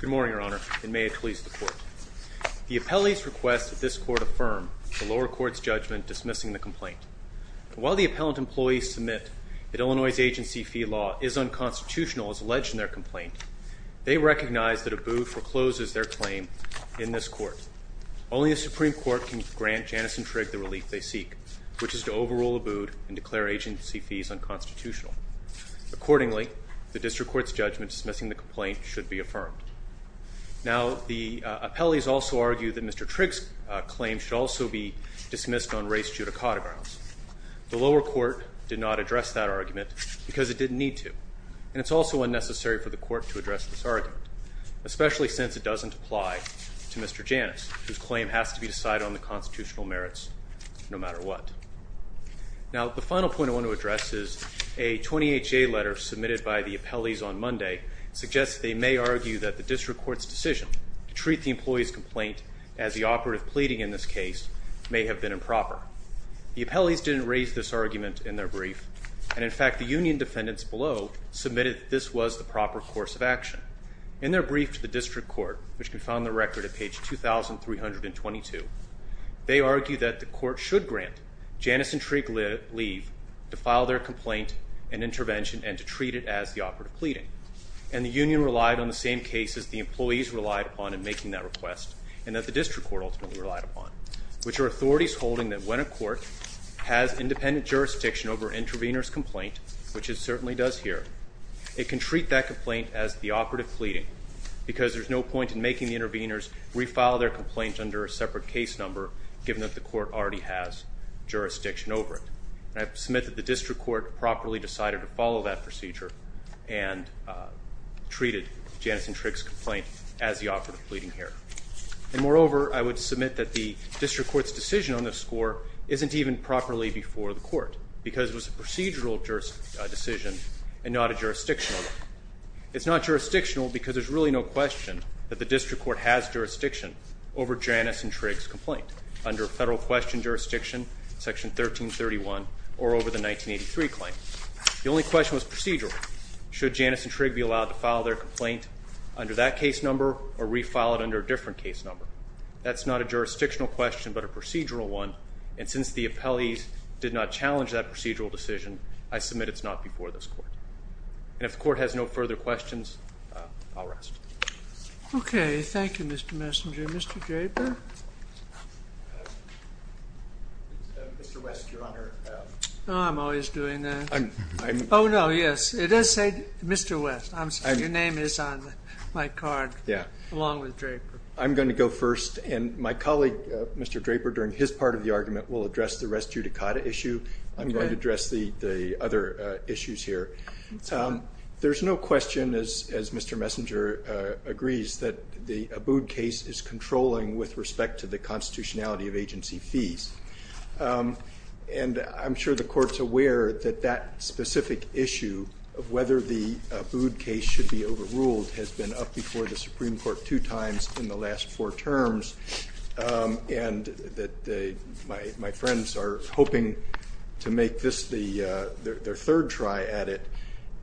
Good morning, Your Honor, and may it please the Court. The appellee's request that this Court affirm the lower court's judgment dismissing the complaint. While the appellant employees submit that Illinois' agency fee law is unconstitutional as alleged in their complaint, they recognize that Abood forecloses their claim in this Court. Only the Supreme Court can grant Janus and Trigg the relief they seek, which is to overrule Abood and declare agency fees unconstitutional. Accordingly, the district court's judgment dismissing the complaint should be affirmed. Now, the appellees also argue that Mr. Trigg's claim should also be dismissed on race judicata grounds. The lower court did not address that argument because it didn't need to, and it's also unnecessary for the Court to address this argument, especially since it doesn't apply to Mr. Janus, whose claim has to be decided on the constitutional merits no matter what. Now, the final point I want to address is a 20HA letter submitted by the appellees on Monday suggests they may argue that the district court's decision to treat the employee's complaint as the operative pleading in this case may have been improper. The appellees didn't raise this argument in their brief, and in fact the union defendants below submitted that this was the proper course of action. In their brief to the district court, which can be found on the record at page 2,322, they argue that the court should grant Janus and Trigg leave to file their complaint and intervention and to treat it as the operative pleading, and the union relied on the same cases the employees relied upon in making that request and that the district court ultimately relied upon, which are authorities holding that when a court has independent jurisdiction over an intervener's complaint, which it certainly does here, it can treat that complaint as the operative pleading because there's no point in making the interveners refile their complaint under a separate case number given that the court already has jurisdiction over it. And I submit that the district court properly decided to follow that procedure and treated Janus and Trigg's complaint as the operative pleading here. And moreover, I would submit that the district court's decision on this score isn't even properly before the court because it was a procedural decision and not a jurisdictional one. It's not jurisdictional because there's really no question that the district court has jurisdiction over Janus and Trigg's complaint under federal question jurisdiction, section 1331, or over the 1983 claim. The only question was procedural. Should Janus and Trigg be allowed to file their complaint under that case number or refile it under a different case number? That's not a jurisdictional question but a procedural one, and since the appellees did not challenge that procedural decision, I submit it's not before this court. And if the court has no further questions, I'll rest. Okay. Thank you, Mr. Messenger. Mr. Draper? Mr. West, Your Honor. Oh, I'm always doing that. Oh, no, yes. It does say Mr. West. Your name is on my card along with Draper. I'm going to go first, and my colleague, Mr. Draper, during his part of the argument, will address the res judicata issue. I'm going to address the other issues here. There's no question, as Mr. Messenger agrees, that the Abood case is controlling with respect to the constitutionality of agency fees. And I'm sure the court's aware that that specific issue of whether the Abood case should be overruled has been up before the Supreme Court two times in the last four terms and that my friends are hoping to make this their third try at it.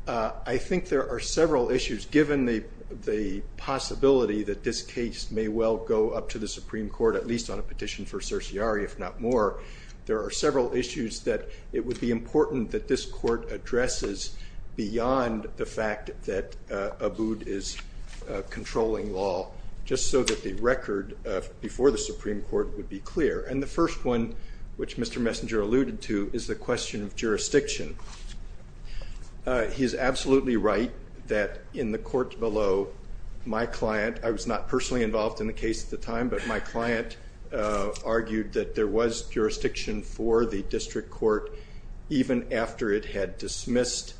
I think there are several issues. Given the possibility that this case may well go up to the Supreme Court, at least on a petition for certiorari, if not more, there are several issues that it would be important that this court addresses beyond the fact that Abood is controlling law, just so that the record before the Supreme Court would be clear. And the first one, which Mr. Messenger alluded to, is the question of jurisdiction. He is absolutely right that in the court below, my client, I was not personally involved in the case at the time, but my client argued that there was jurisdiction for the district court even after it had dismissed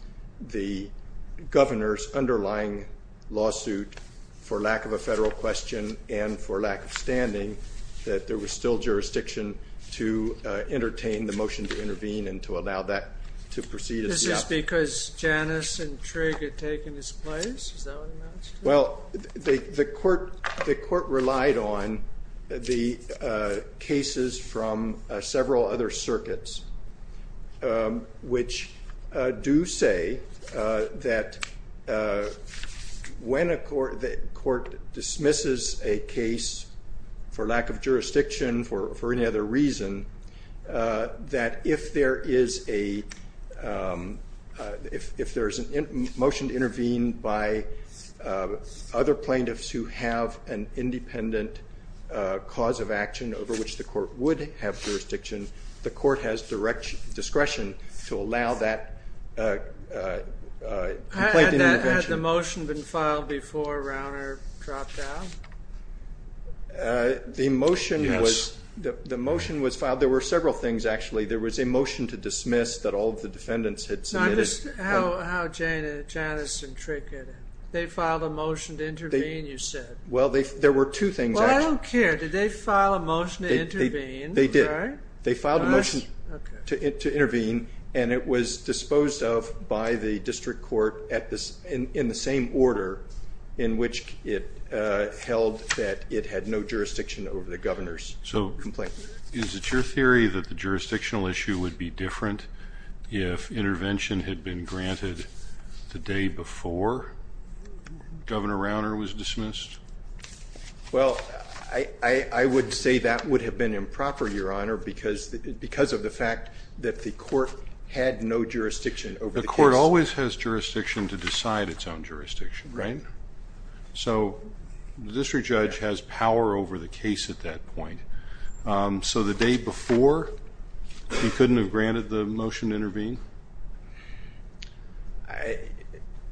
the governor's underlying lawsuit for lack of a federal question and for lack of standing, that there was still jurisdiction to entertain the motion to intervene and to allow that to proceed as the outcome. This is because Janus and Trigg had taken his place? Is that what it amounts to? Well, the court relied on the cases from several other circuits, which do say that when a court dismisses a case for lack of jurisdiction, for any other reason, that if there is a motion to intervene by other plaintiffs who have an independent cause of action over which the court would have jurisdiction, the court has discretion to allow that complaint intervention. Had the motion been filed before Rauner dropped out? The motion was filed. There were several things, actually. There was a motion to dismiss that all of the defendants had submitted. How did Janus and Trigg get in? They filed a motion to intervene, you said? Well, there were two things. Well, I don't care. Did they file a motion to intervene? They did. They filed a motion to intervene, and it was disposed of by the district court in the same order in which it held that it had no jurisdiction over the governor's complaint. So is it your theory that the jurisdictional issue would be different if intervention had been granted the day before Governor Rauner was dismissed? Well, I would say that would have been improper, Your Honor, because of the fact that the court had no jurisdiction over the case. The court always has jurisdiction to decide its own jurisdiction, right? So the district judge has power over the case at that point. So the day before, you couldn't have granted the motion to intervene?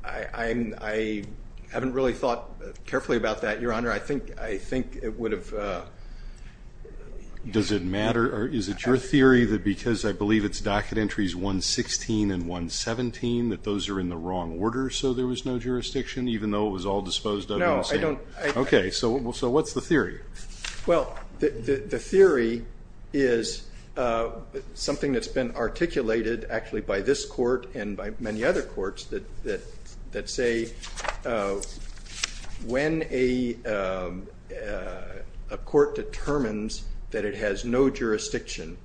I haven't really thought carefully about that, Your Honor. I think it would have. Does it matter? Is it your theory that because I believe it's docket entries 116 and 117, that those are in the wrong order so there was no jurisdiction, even though it was all disposed of in the same? No, I don't. Okay, so what's the theory? Well, the theory is something that's been articulated actually by this court and by many other courts that say when a court determines that it has no jurisdiction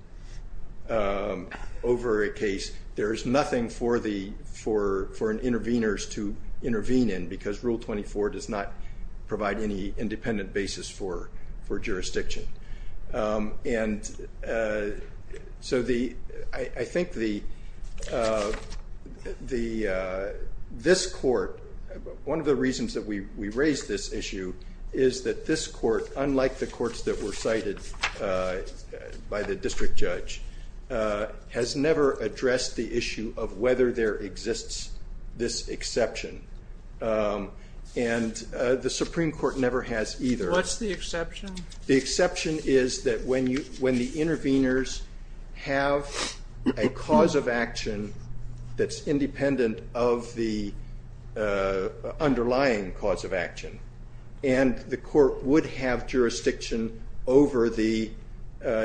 over a case, there is nothing for an intervener to intervene in because Rule 24 does not provide any independent basis for jurisdiction. And so I think this court, one of the reasons that we raised this issue, is that this court, unlike the courts that were cited by the district judge, has never addressed the issue of whether there exists this exception. And the Supreme Court never has either. What's the exception? The exception is that when the interveners have a cause of action that's independent of the underlying cause of action and the court would have jurisdiction over the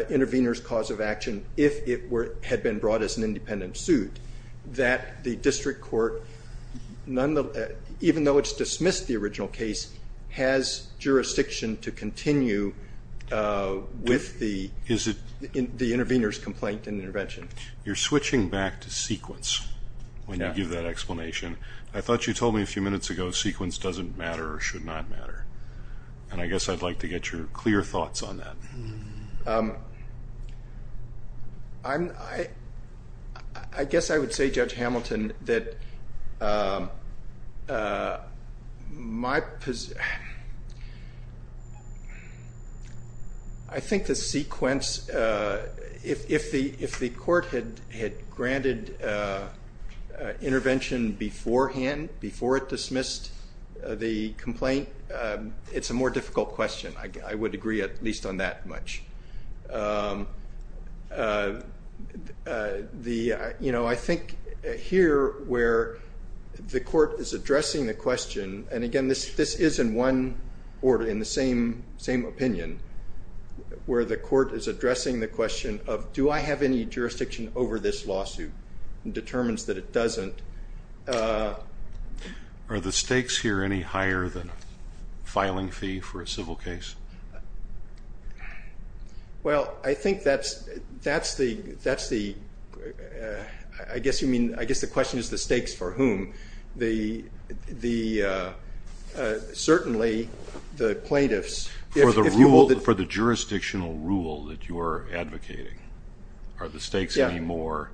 intervener's cause of action if it had been brought as an independent suit, that the district court, even though it's dismissed the original case, has jurisdiction to continue with the intervener's complaint and intervention. You're switching back to sequence when you give that explanation. I thought you told me a few minutes ago sequence doesn't matter or should not matter, and I guess I'd like to get your clear thoughts on that. I guess I would say, Judge Hamilton, that I think the sequence, if the court had granted intervention beforehand, before it dismissed the complaint, it's a more difficult question. I would agree at least on that much. I think here where the court is addressing the question, and again this is in one order, in the same opinion, where the court is addressing the question of, do I have any jurisdiction over this lawsuit and determines that it doesn't. Are the stakes here any higher than filing fee for a civil case? I guess the question is the stakes for whom? Certainly the plaintiffs. For the jurisdictional rule that you're advocating. Are the stakes any more?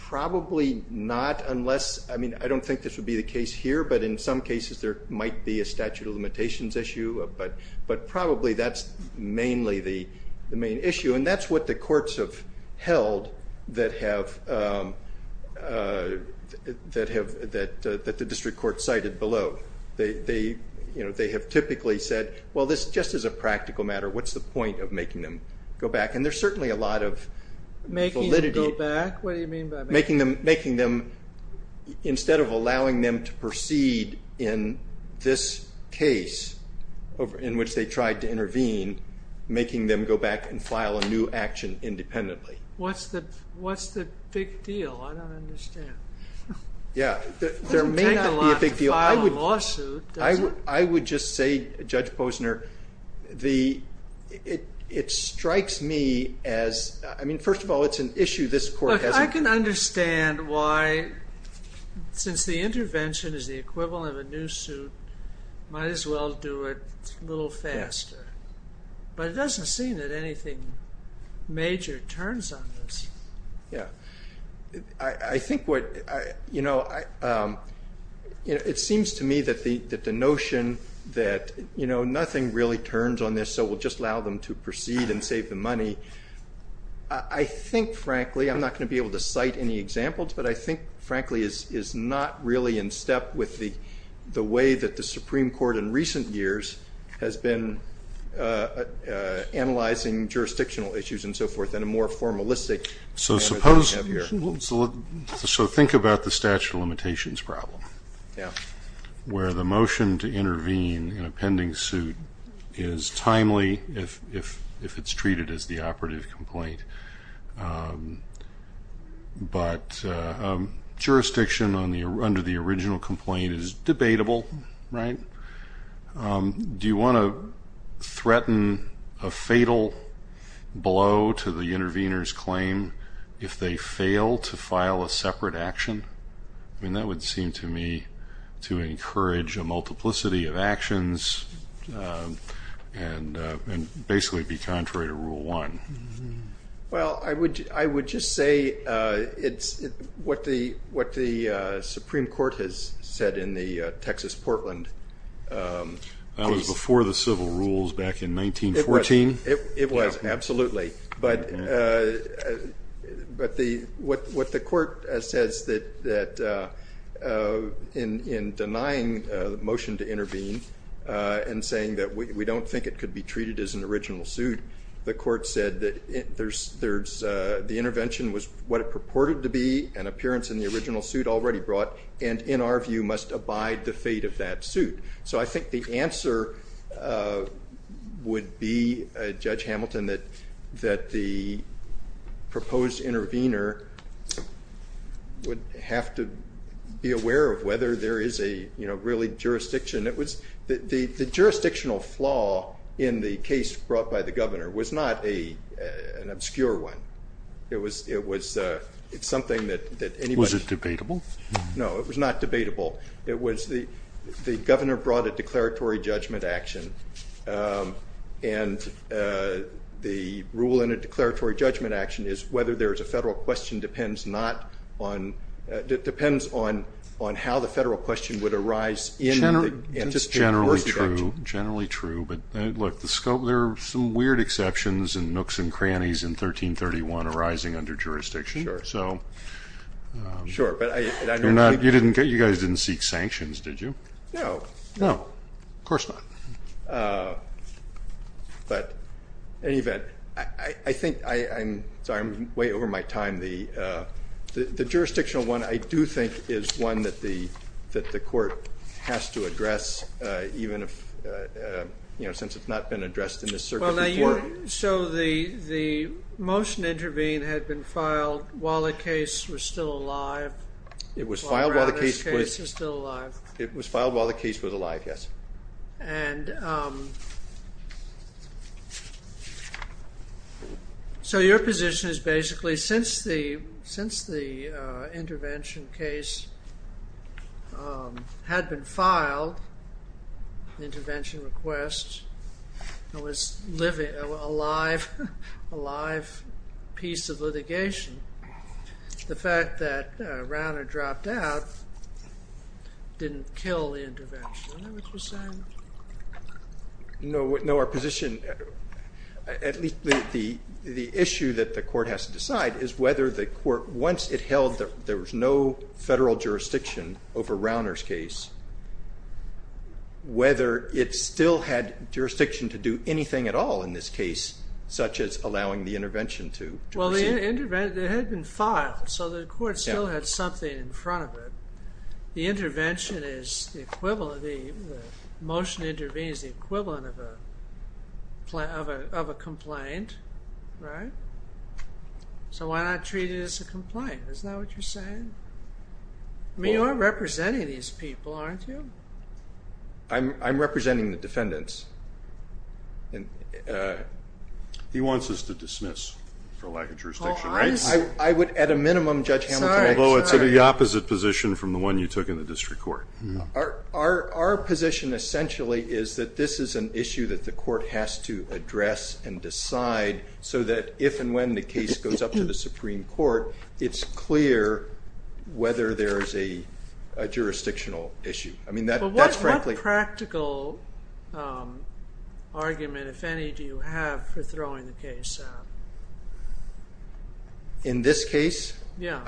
Probably not unless, I don't think this would be the case here, but in some cases there might be a statute of limitations issue, but probably that's mainly the main issue, and that's what the courts have held that the district court cited below. They have typically said, well this just is a practical matter, what's the point of making them go back? And there's certainly a lot of validity. Making them go back? What do you mean by making them go back? Instead of allowing them to proceed in this case in which they tried to intervene, making them go back and file a new action independently. What's the big deal? I don't understand. Yeah, there may not be a big deal. I would just say, Judge Posner, it strikes me as, I mean, first of all, it's an issue this court hasn't. Look, I can understand why, since the intervention is the equivalent of a new suit, might as well do it a little faster. But it doesn't seem that anything major turns on this. Yeah. I think what, you know, it seems to me that the notion that, you know, nothing really turns on this, so we'll just allow them to proceed and save the money. I think, frankly, I'm not going to be able to cite any examples, but I think, frankly, is not really in step with the way that the Supreme Court in recent years has been analyzing jurisdictional issues and so forth in a more formalistic manner than we have here. So think about the statute of limitations problem. Yeah. Where the motion to intervene in a pending suit is timely if it's treated as the operative complaint, but jurisdiction under the original complaint is debatable, right? Do you want to threaten a fatal blow to the intervener's claim if they fail to file a separate action? I mean, that would seem to me to encourage a multiplicity of actions and basically be contrary to Rule 1. Well, I would just say it's what the Supreme Court has said in the Texas-Portland case. That was before the civil rules back in 1914? It was, absolutely. But what the court says that in denying the motion to intervene and saying that we don't think it could be treated as an original suit, the court said that the intervention was what it purported to be, an appearance in the original suit already brought, and in our view must abide the fate of that suit. So I think the answer would be, Judge Hamilton, that the proposed intervener would have to be aware of whether there is a really jurisdiction. The jurisdictional flaw in the case brought by the governor was not an obscure one. It was something that anybody... Was it debatable? No, it was not debatable. It was the governor brought a declaratory judgment action, and the rule in a declaratory judgment action is whether there is a federal question depends not on... depends on how the federal question would arise in the... It's generally true, generally true. But, look, there are some weird exceptions and nooks and crannies in 1331 arising under jurisdiction. Sure. So... Sure, but I... You guys didn't seek sanctions, did you? No. No. Of course not. But, in any event, I think I'm... Sorry, I'm way over my time. The jurisdictional one I do think is one that the court has to address, even if, you know, since it's not been addressed in this circuit before. So the motion intervening had been filed while the case was still alive? It was filed while the case was still alive. It was filed while the case was alive, yes. And... So your position is basically since the intervention case had been filed, the intervention request, and was a live piece of litigation, the fact that Rauner dropped out didn't kill the intervention, is that what you're saying? No, our position, at least the issue that the court has to decide, is whether the court, once it held that there was no federal jurisdiction over Rauner's case, whether it still had jurisdiction to do anything at all in this case, such as allowing the intervention to proceed. Well, the intervention, it had been filed, so the court still had something in front of it. The intervention is the equivalent, the motion intervening is the equivalent of a complaint, right? So why not treat it as a complaint, is that what you're saying? I mean, you are representing these people, aren't you? I'm representing the defendants. He wants us to dismiss for lack of jurisdiction, right? I would, at a minimum, Judge Hamilton, Although it's the opposite position from the one you took in the district court. Our position essentially is that this is an issue that the court has to address and decide, so that if and when the case goes up to the Supreme Court, it's clear whether there is a jurisdictional issue. What practical argument, if any, do you have for throwing the case out? In this case? Yeah.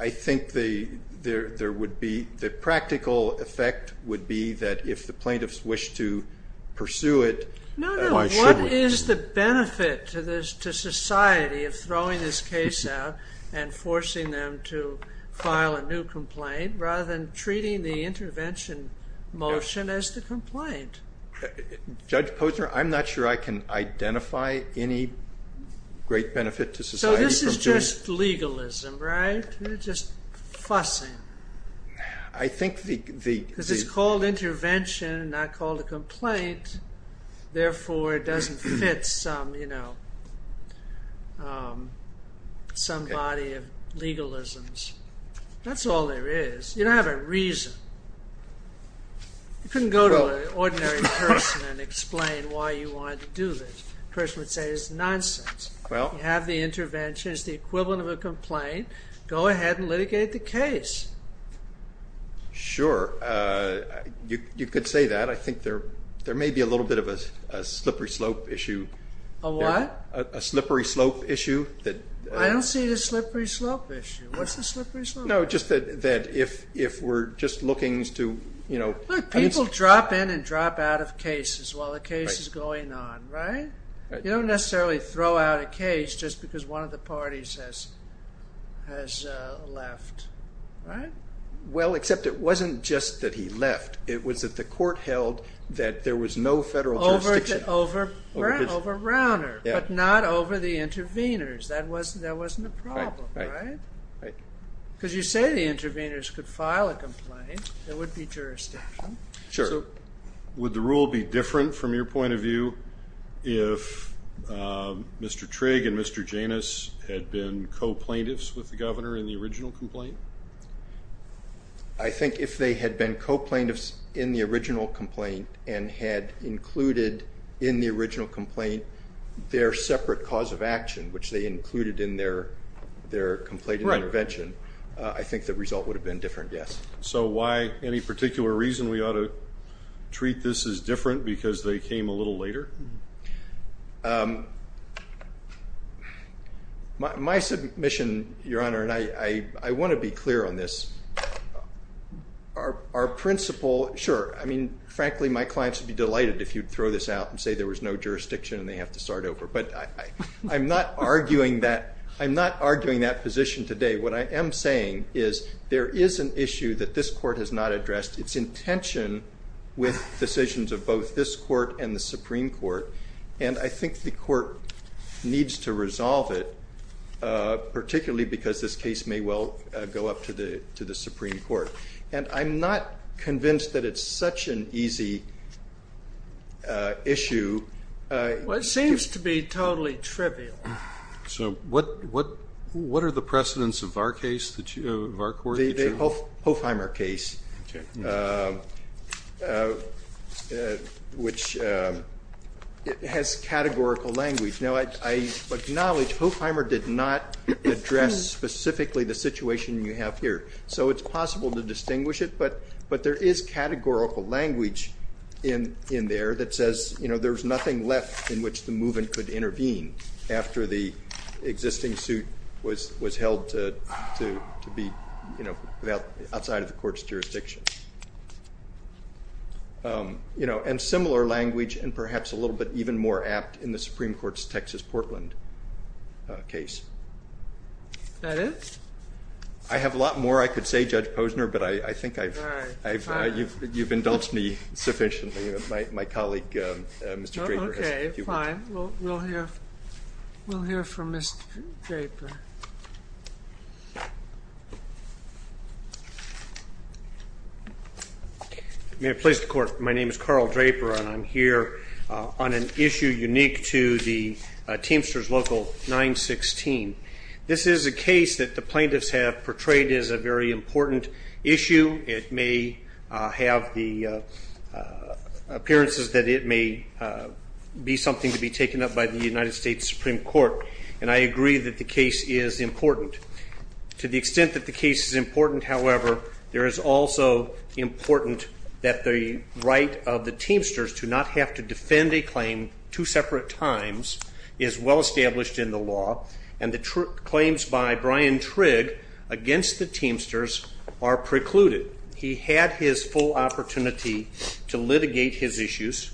I think the practical effect would be that if the plaintiffs wish to pursue it, No, no, what is the benefit to society of throwing this case out and forcing them to file a new complaint, rather than treating the intervention motion as the complaint? Judge Posner, I'm not sure I can identify any great benefit to society. So this is just legalism, right? You're just fussing. I think the Because it's called intervention, not called a complaint, therefore it doesn't fit some, you know, some body of legalisms. That's all there is. You don't have a reason. You couldn't go to an ordinary person and explain why you wanted to do this. The person would say it's nonsense. You have the intervention, it's the equivalent of a complaint, go ahead and litigate the case. Sure. You could say that. I think there may be a little bit of a slippery slope issue. A what? A slippery slope issue. I don't see the slippery slope issue. What's the slippery slope issue? No, just that if we're just looking to, you know Look, people drop in and drop out of cases while the case is going on, right? You don't necessarily throw out a case just because one of the parties has left, right? Well, except it wasn't just that he left. It was that the court held that there was no federal jurisdiction Over Rauner, but not over the interveners. That wasn't a problem, right? Because you say the interveners could file a complaint. There would be jurisdiction. Sure. Would the rule be different from your point of view if Mr. Trigg and Mr. Janus had been co-plaintiffs with the governor in the original complaint? I think if they had been co-plaintiffs in the original complaint and had included in the original complaint their separate cause of action, which they included in their complaint and intervention, I think the result would have been different, yes. So why any particular reason we ought to treat this as different because they came a little later? My submission, Your Honor, and I want to be clear on this, our principle, sure, I mean, frankly, my clients would be delighted if you'd throw this out and say there was no jurisdiction and they have to start over. But I'm not arguing that position today. What I am saying is there is an issue that this court has not addressed. It's in tension with decisions of both this court and the Supreme Court, and I think the court needs to resolve it, particularly because this case may well go up to the Supreme Court. And I'm not convinced that it's such an easy issue. Well, it seems to be totally trivial. So what are the precedents of our case, of our court? The Hofheimer case, which has categorical language. Now, I acknowledge Hofheimer did not address specifically the situation you have here, so it's possible to distinguish it, but there is categorical language in there that says there's nothing left in which the movement could intervene after the existing suit was held to be outside of the court's jurisdiction. And similar language and perhaps a little bit even more apt in the Supreme Court's Texas-Portland case. That is? I have a lot more I could say, Judge Posner, but I think you've indulged me sufficiently. My colleague, Mr. Draper. Okay, fine. We'll hear from Mr. Draper. May it please the Court, my name is Carl Draper, and I'm here on an issue unique to the Teamsters Local 916. This is a case that the plaintiffs have portrayed as a very important issue. It may have the appearances that it may be something to be taken up by the United States Supreme Court, and I agree that the case is important. To the extent that the case is important, however, there is also important that the right of the Teamsters to not have to defend a claim two separate times is well established in the law, and the claims by Brian Trigg against the Teamsters are precluded. He had his full opportunity to litigate his issues.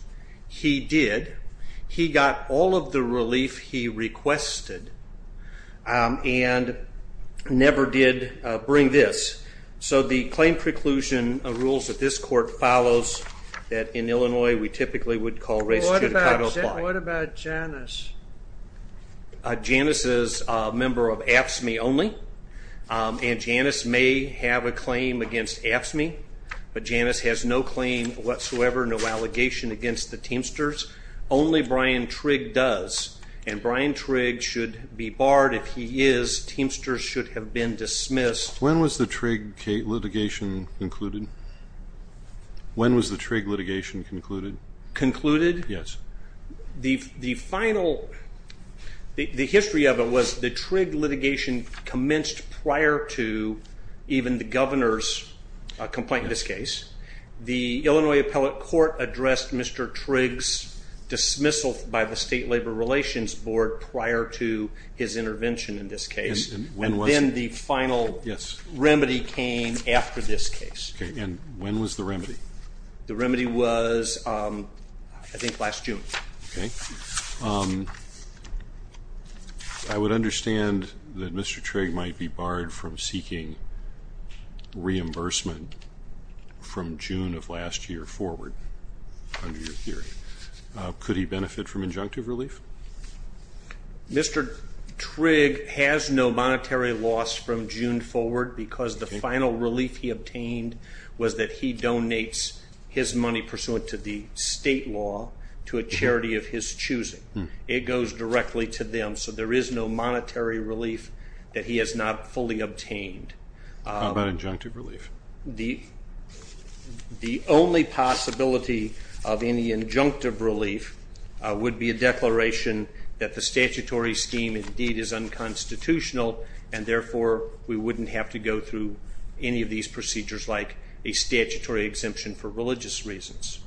He did. He got all of the relief he requested and never did bring this. So the claim preclusion rules that this Court follows that in Illinois we typically would call race judicata apply. What about Janice? Janice is a member of AFSCME only, and Janice may have a claim against AFSCME, but Janice has no claim whatsoever, no allegation against the Teamsters. Only Brian Trigg does, and Brian Trigg should be barred. If he is, Teamsters should have been dismissed. When was the Trigg litigation concluded? When was the Trigg litigation concluded? Concluded? Yes. The final, the history of it was the Trigg litigation commenced prior to even the Governor's complaint in this case. The Illinois Appellate Court addressed Mr. Trigg's dismissal by the State Labor Relations Board prior to his intervention in this case. And when was it? And then the final remedy came after this case. Okay, and when was the remedy? The remedy was, I think, last June. Okay. I would understand that Mr. Trigg might be barred from seeking reimbursement from June of last year forward under your theory. Could he benefit from injunctive relief? Mr. Trigg has no monetary loss from June forward because the final relief he obtained was that he donates his money pursuant to the state law to a charity of his choosing. It goes directly to them, so there is no monetary relief that he has not fully obtained. How about injunctive relief? The only possibility of any injunctive relief would be a declaration that the statutory scheme indeed is unconstitutional, and therefore we wouldn't have to go through any of these procedures like a statutory exemption for religious reasons.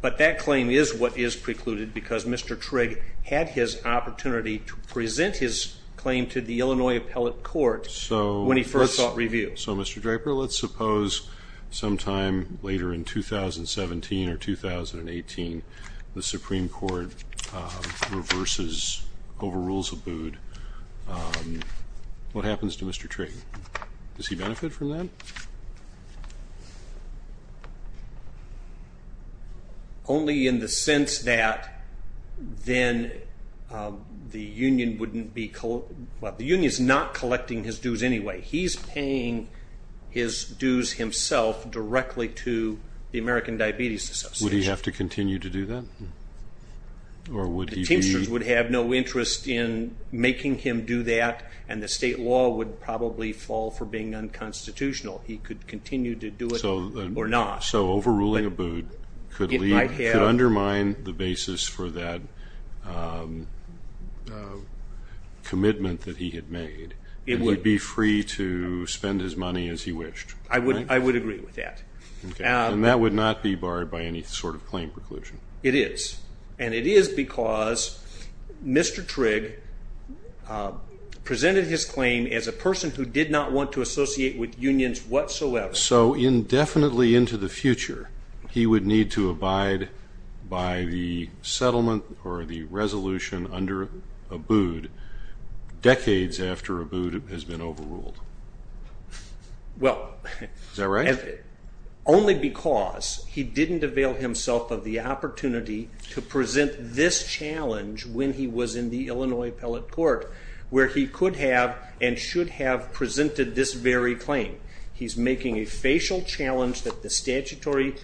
But that claim is what is precluded because Mr. Trigg had his opportunity to present his claim to the Illinois Appellate Court when he first sought review. Okay, so Mr. Draper, let's suppose sometime later in 2017 or 2018 the Supreme Court reverses, overrules Abood. What happens to Mr. Trigg? Does he benefit from that? Only in the sense that the union is not collecting his dues anyway. He is paying his dues himself directly to the American Diabetes Association. Would he have to continue to do that? The Teamsters would have no interest in making him do that, and the state law would probably fall for being unconstitutional. He could continue to do it or not. So overruling Abood could undermine the basis for that commitment that he had made, and he would be free to spend his money as he wished. I would agree with that. And that would not be barred by any sort of claim preclusion. It is, and it is because Mr. Trigg presented his claim as a person who did not want to associate with unions whatsoever. So indefinitely into the future he would need to abide by the settlement or the resolution under Abood, decades after Abood has been overruled. Is that right? Only because he did not avail himself of the opportunity to present this challenge when he was in the Illinois appellate court, where he could have and should have presented this very claim. He is making a facial challenge that the statutory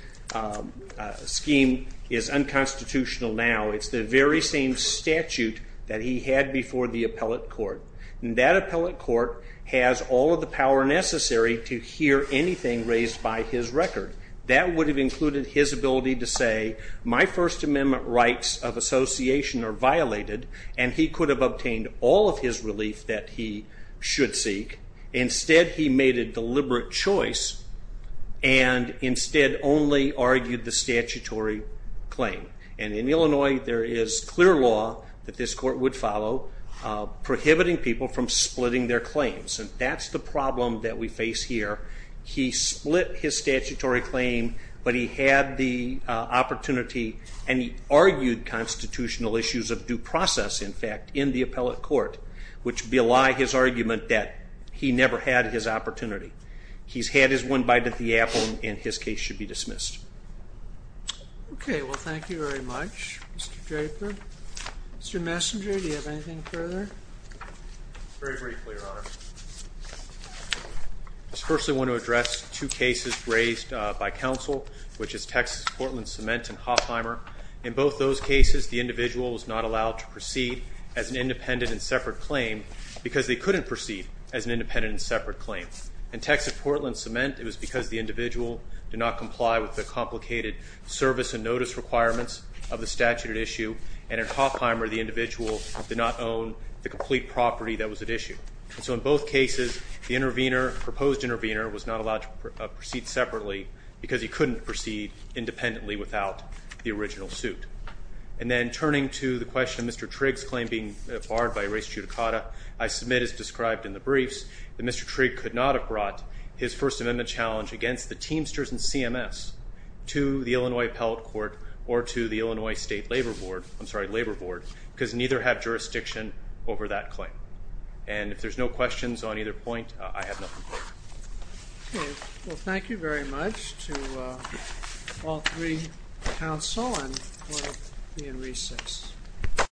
scheme is unconstitutional now. It is the very same statute that he had before the appellate court. And that appellate court has all of the power necessary to hear anything raised by his record. That would have included his ability to say, my First Amendment rights of association are violated, and he could have obtained all of his relief that he should seek. Instead, he made a deliberate choice and instead only argued the statutory claim. And in Illinois, there is clear law that this court would follow prohibiting people from splitting their claims. And that's the problem that we face here. He split his statutory claim, but he had the opportunity and he argued constitutional issues of due process, in fact, in the appellate court, which belie his argument that he never had his opportunity. He's had his one bite at the apple, and his case should be dismissed. OK, well, thank you very much, Mr. Draper. Mr. Messenger, do you have anything further? Very briefly, Your Honor. First, I want to address two cases raised by counsel, which is Texas Portland Cement and Hoffheimer. In both those cases, the individual was not allowed to proceed as an independent and separate claim because they couldn't proceed as an independent and separate claim. In Texas Portland Cement, it was because the individual did not comply with the complicated service and notice requirements of the statute at issue. And in Hoffheimer, the individual did not own the complete property that was at issue. So in both cases, the intervener, proposed intervener, was not allowed to proceed separately because he couldn't proceed independently without the original suit. And then turning to the question of Mr. Trigg's claim being barred by res judicata, I submit, as described in the briefs, that Mr. Trigg could not have brought his First Amendment challenge against the Teamsters and CMS to the Illinois Appellate Court or to the Illinois State Labor Board, I'm sorry, Labor Board, because neither have jurisdiction over that claim. And if there's no questions on either point, I have nothing further. OK, well, thank you very much to all three counsel and Court of the Inricis.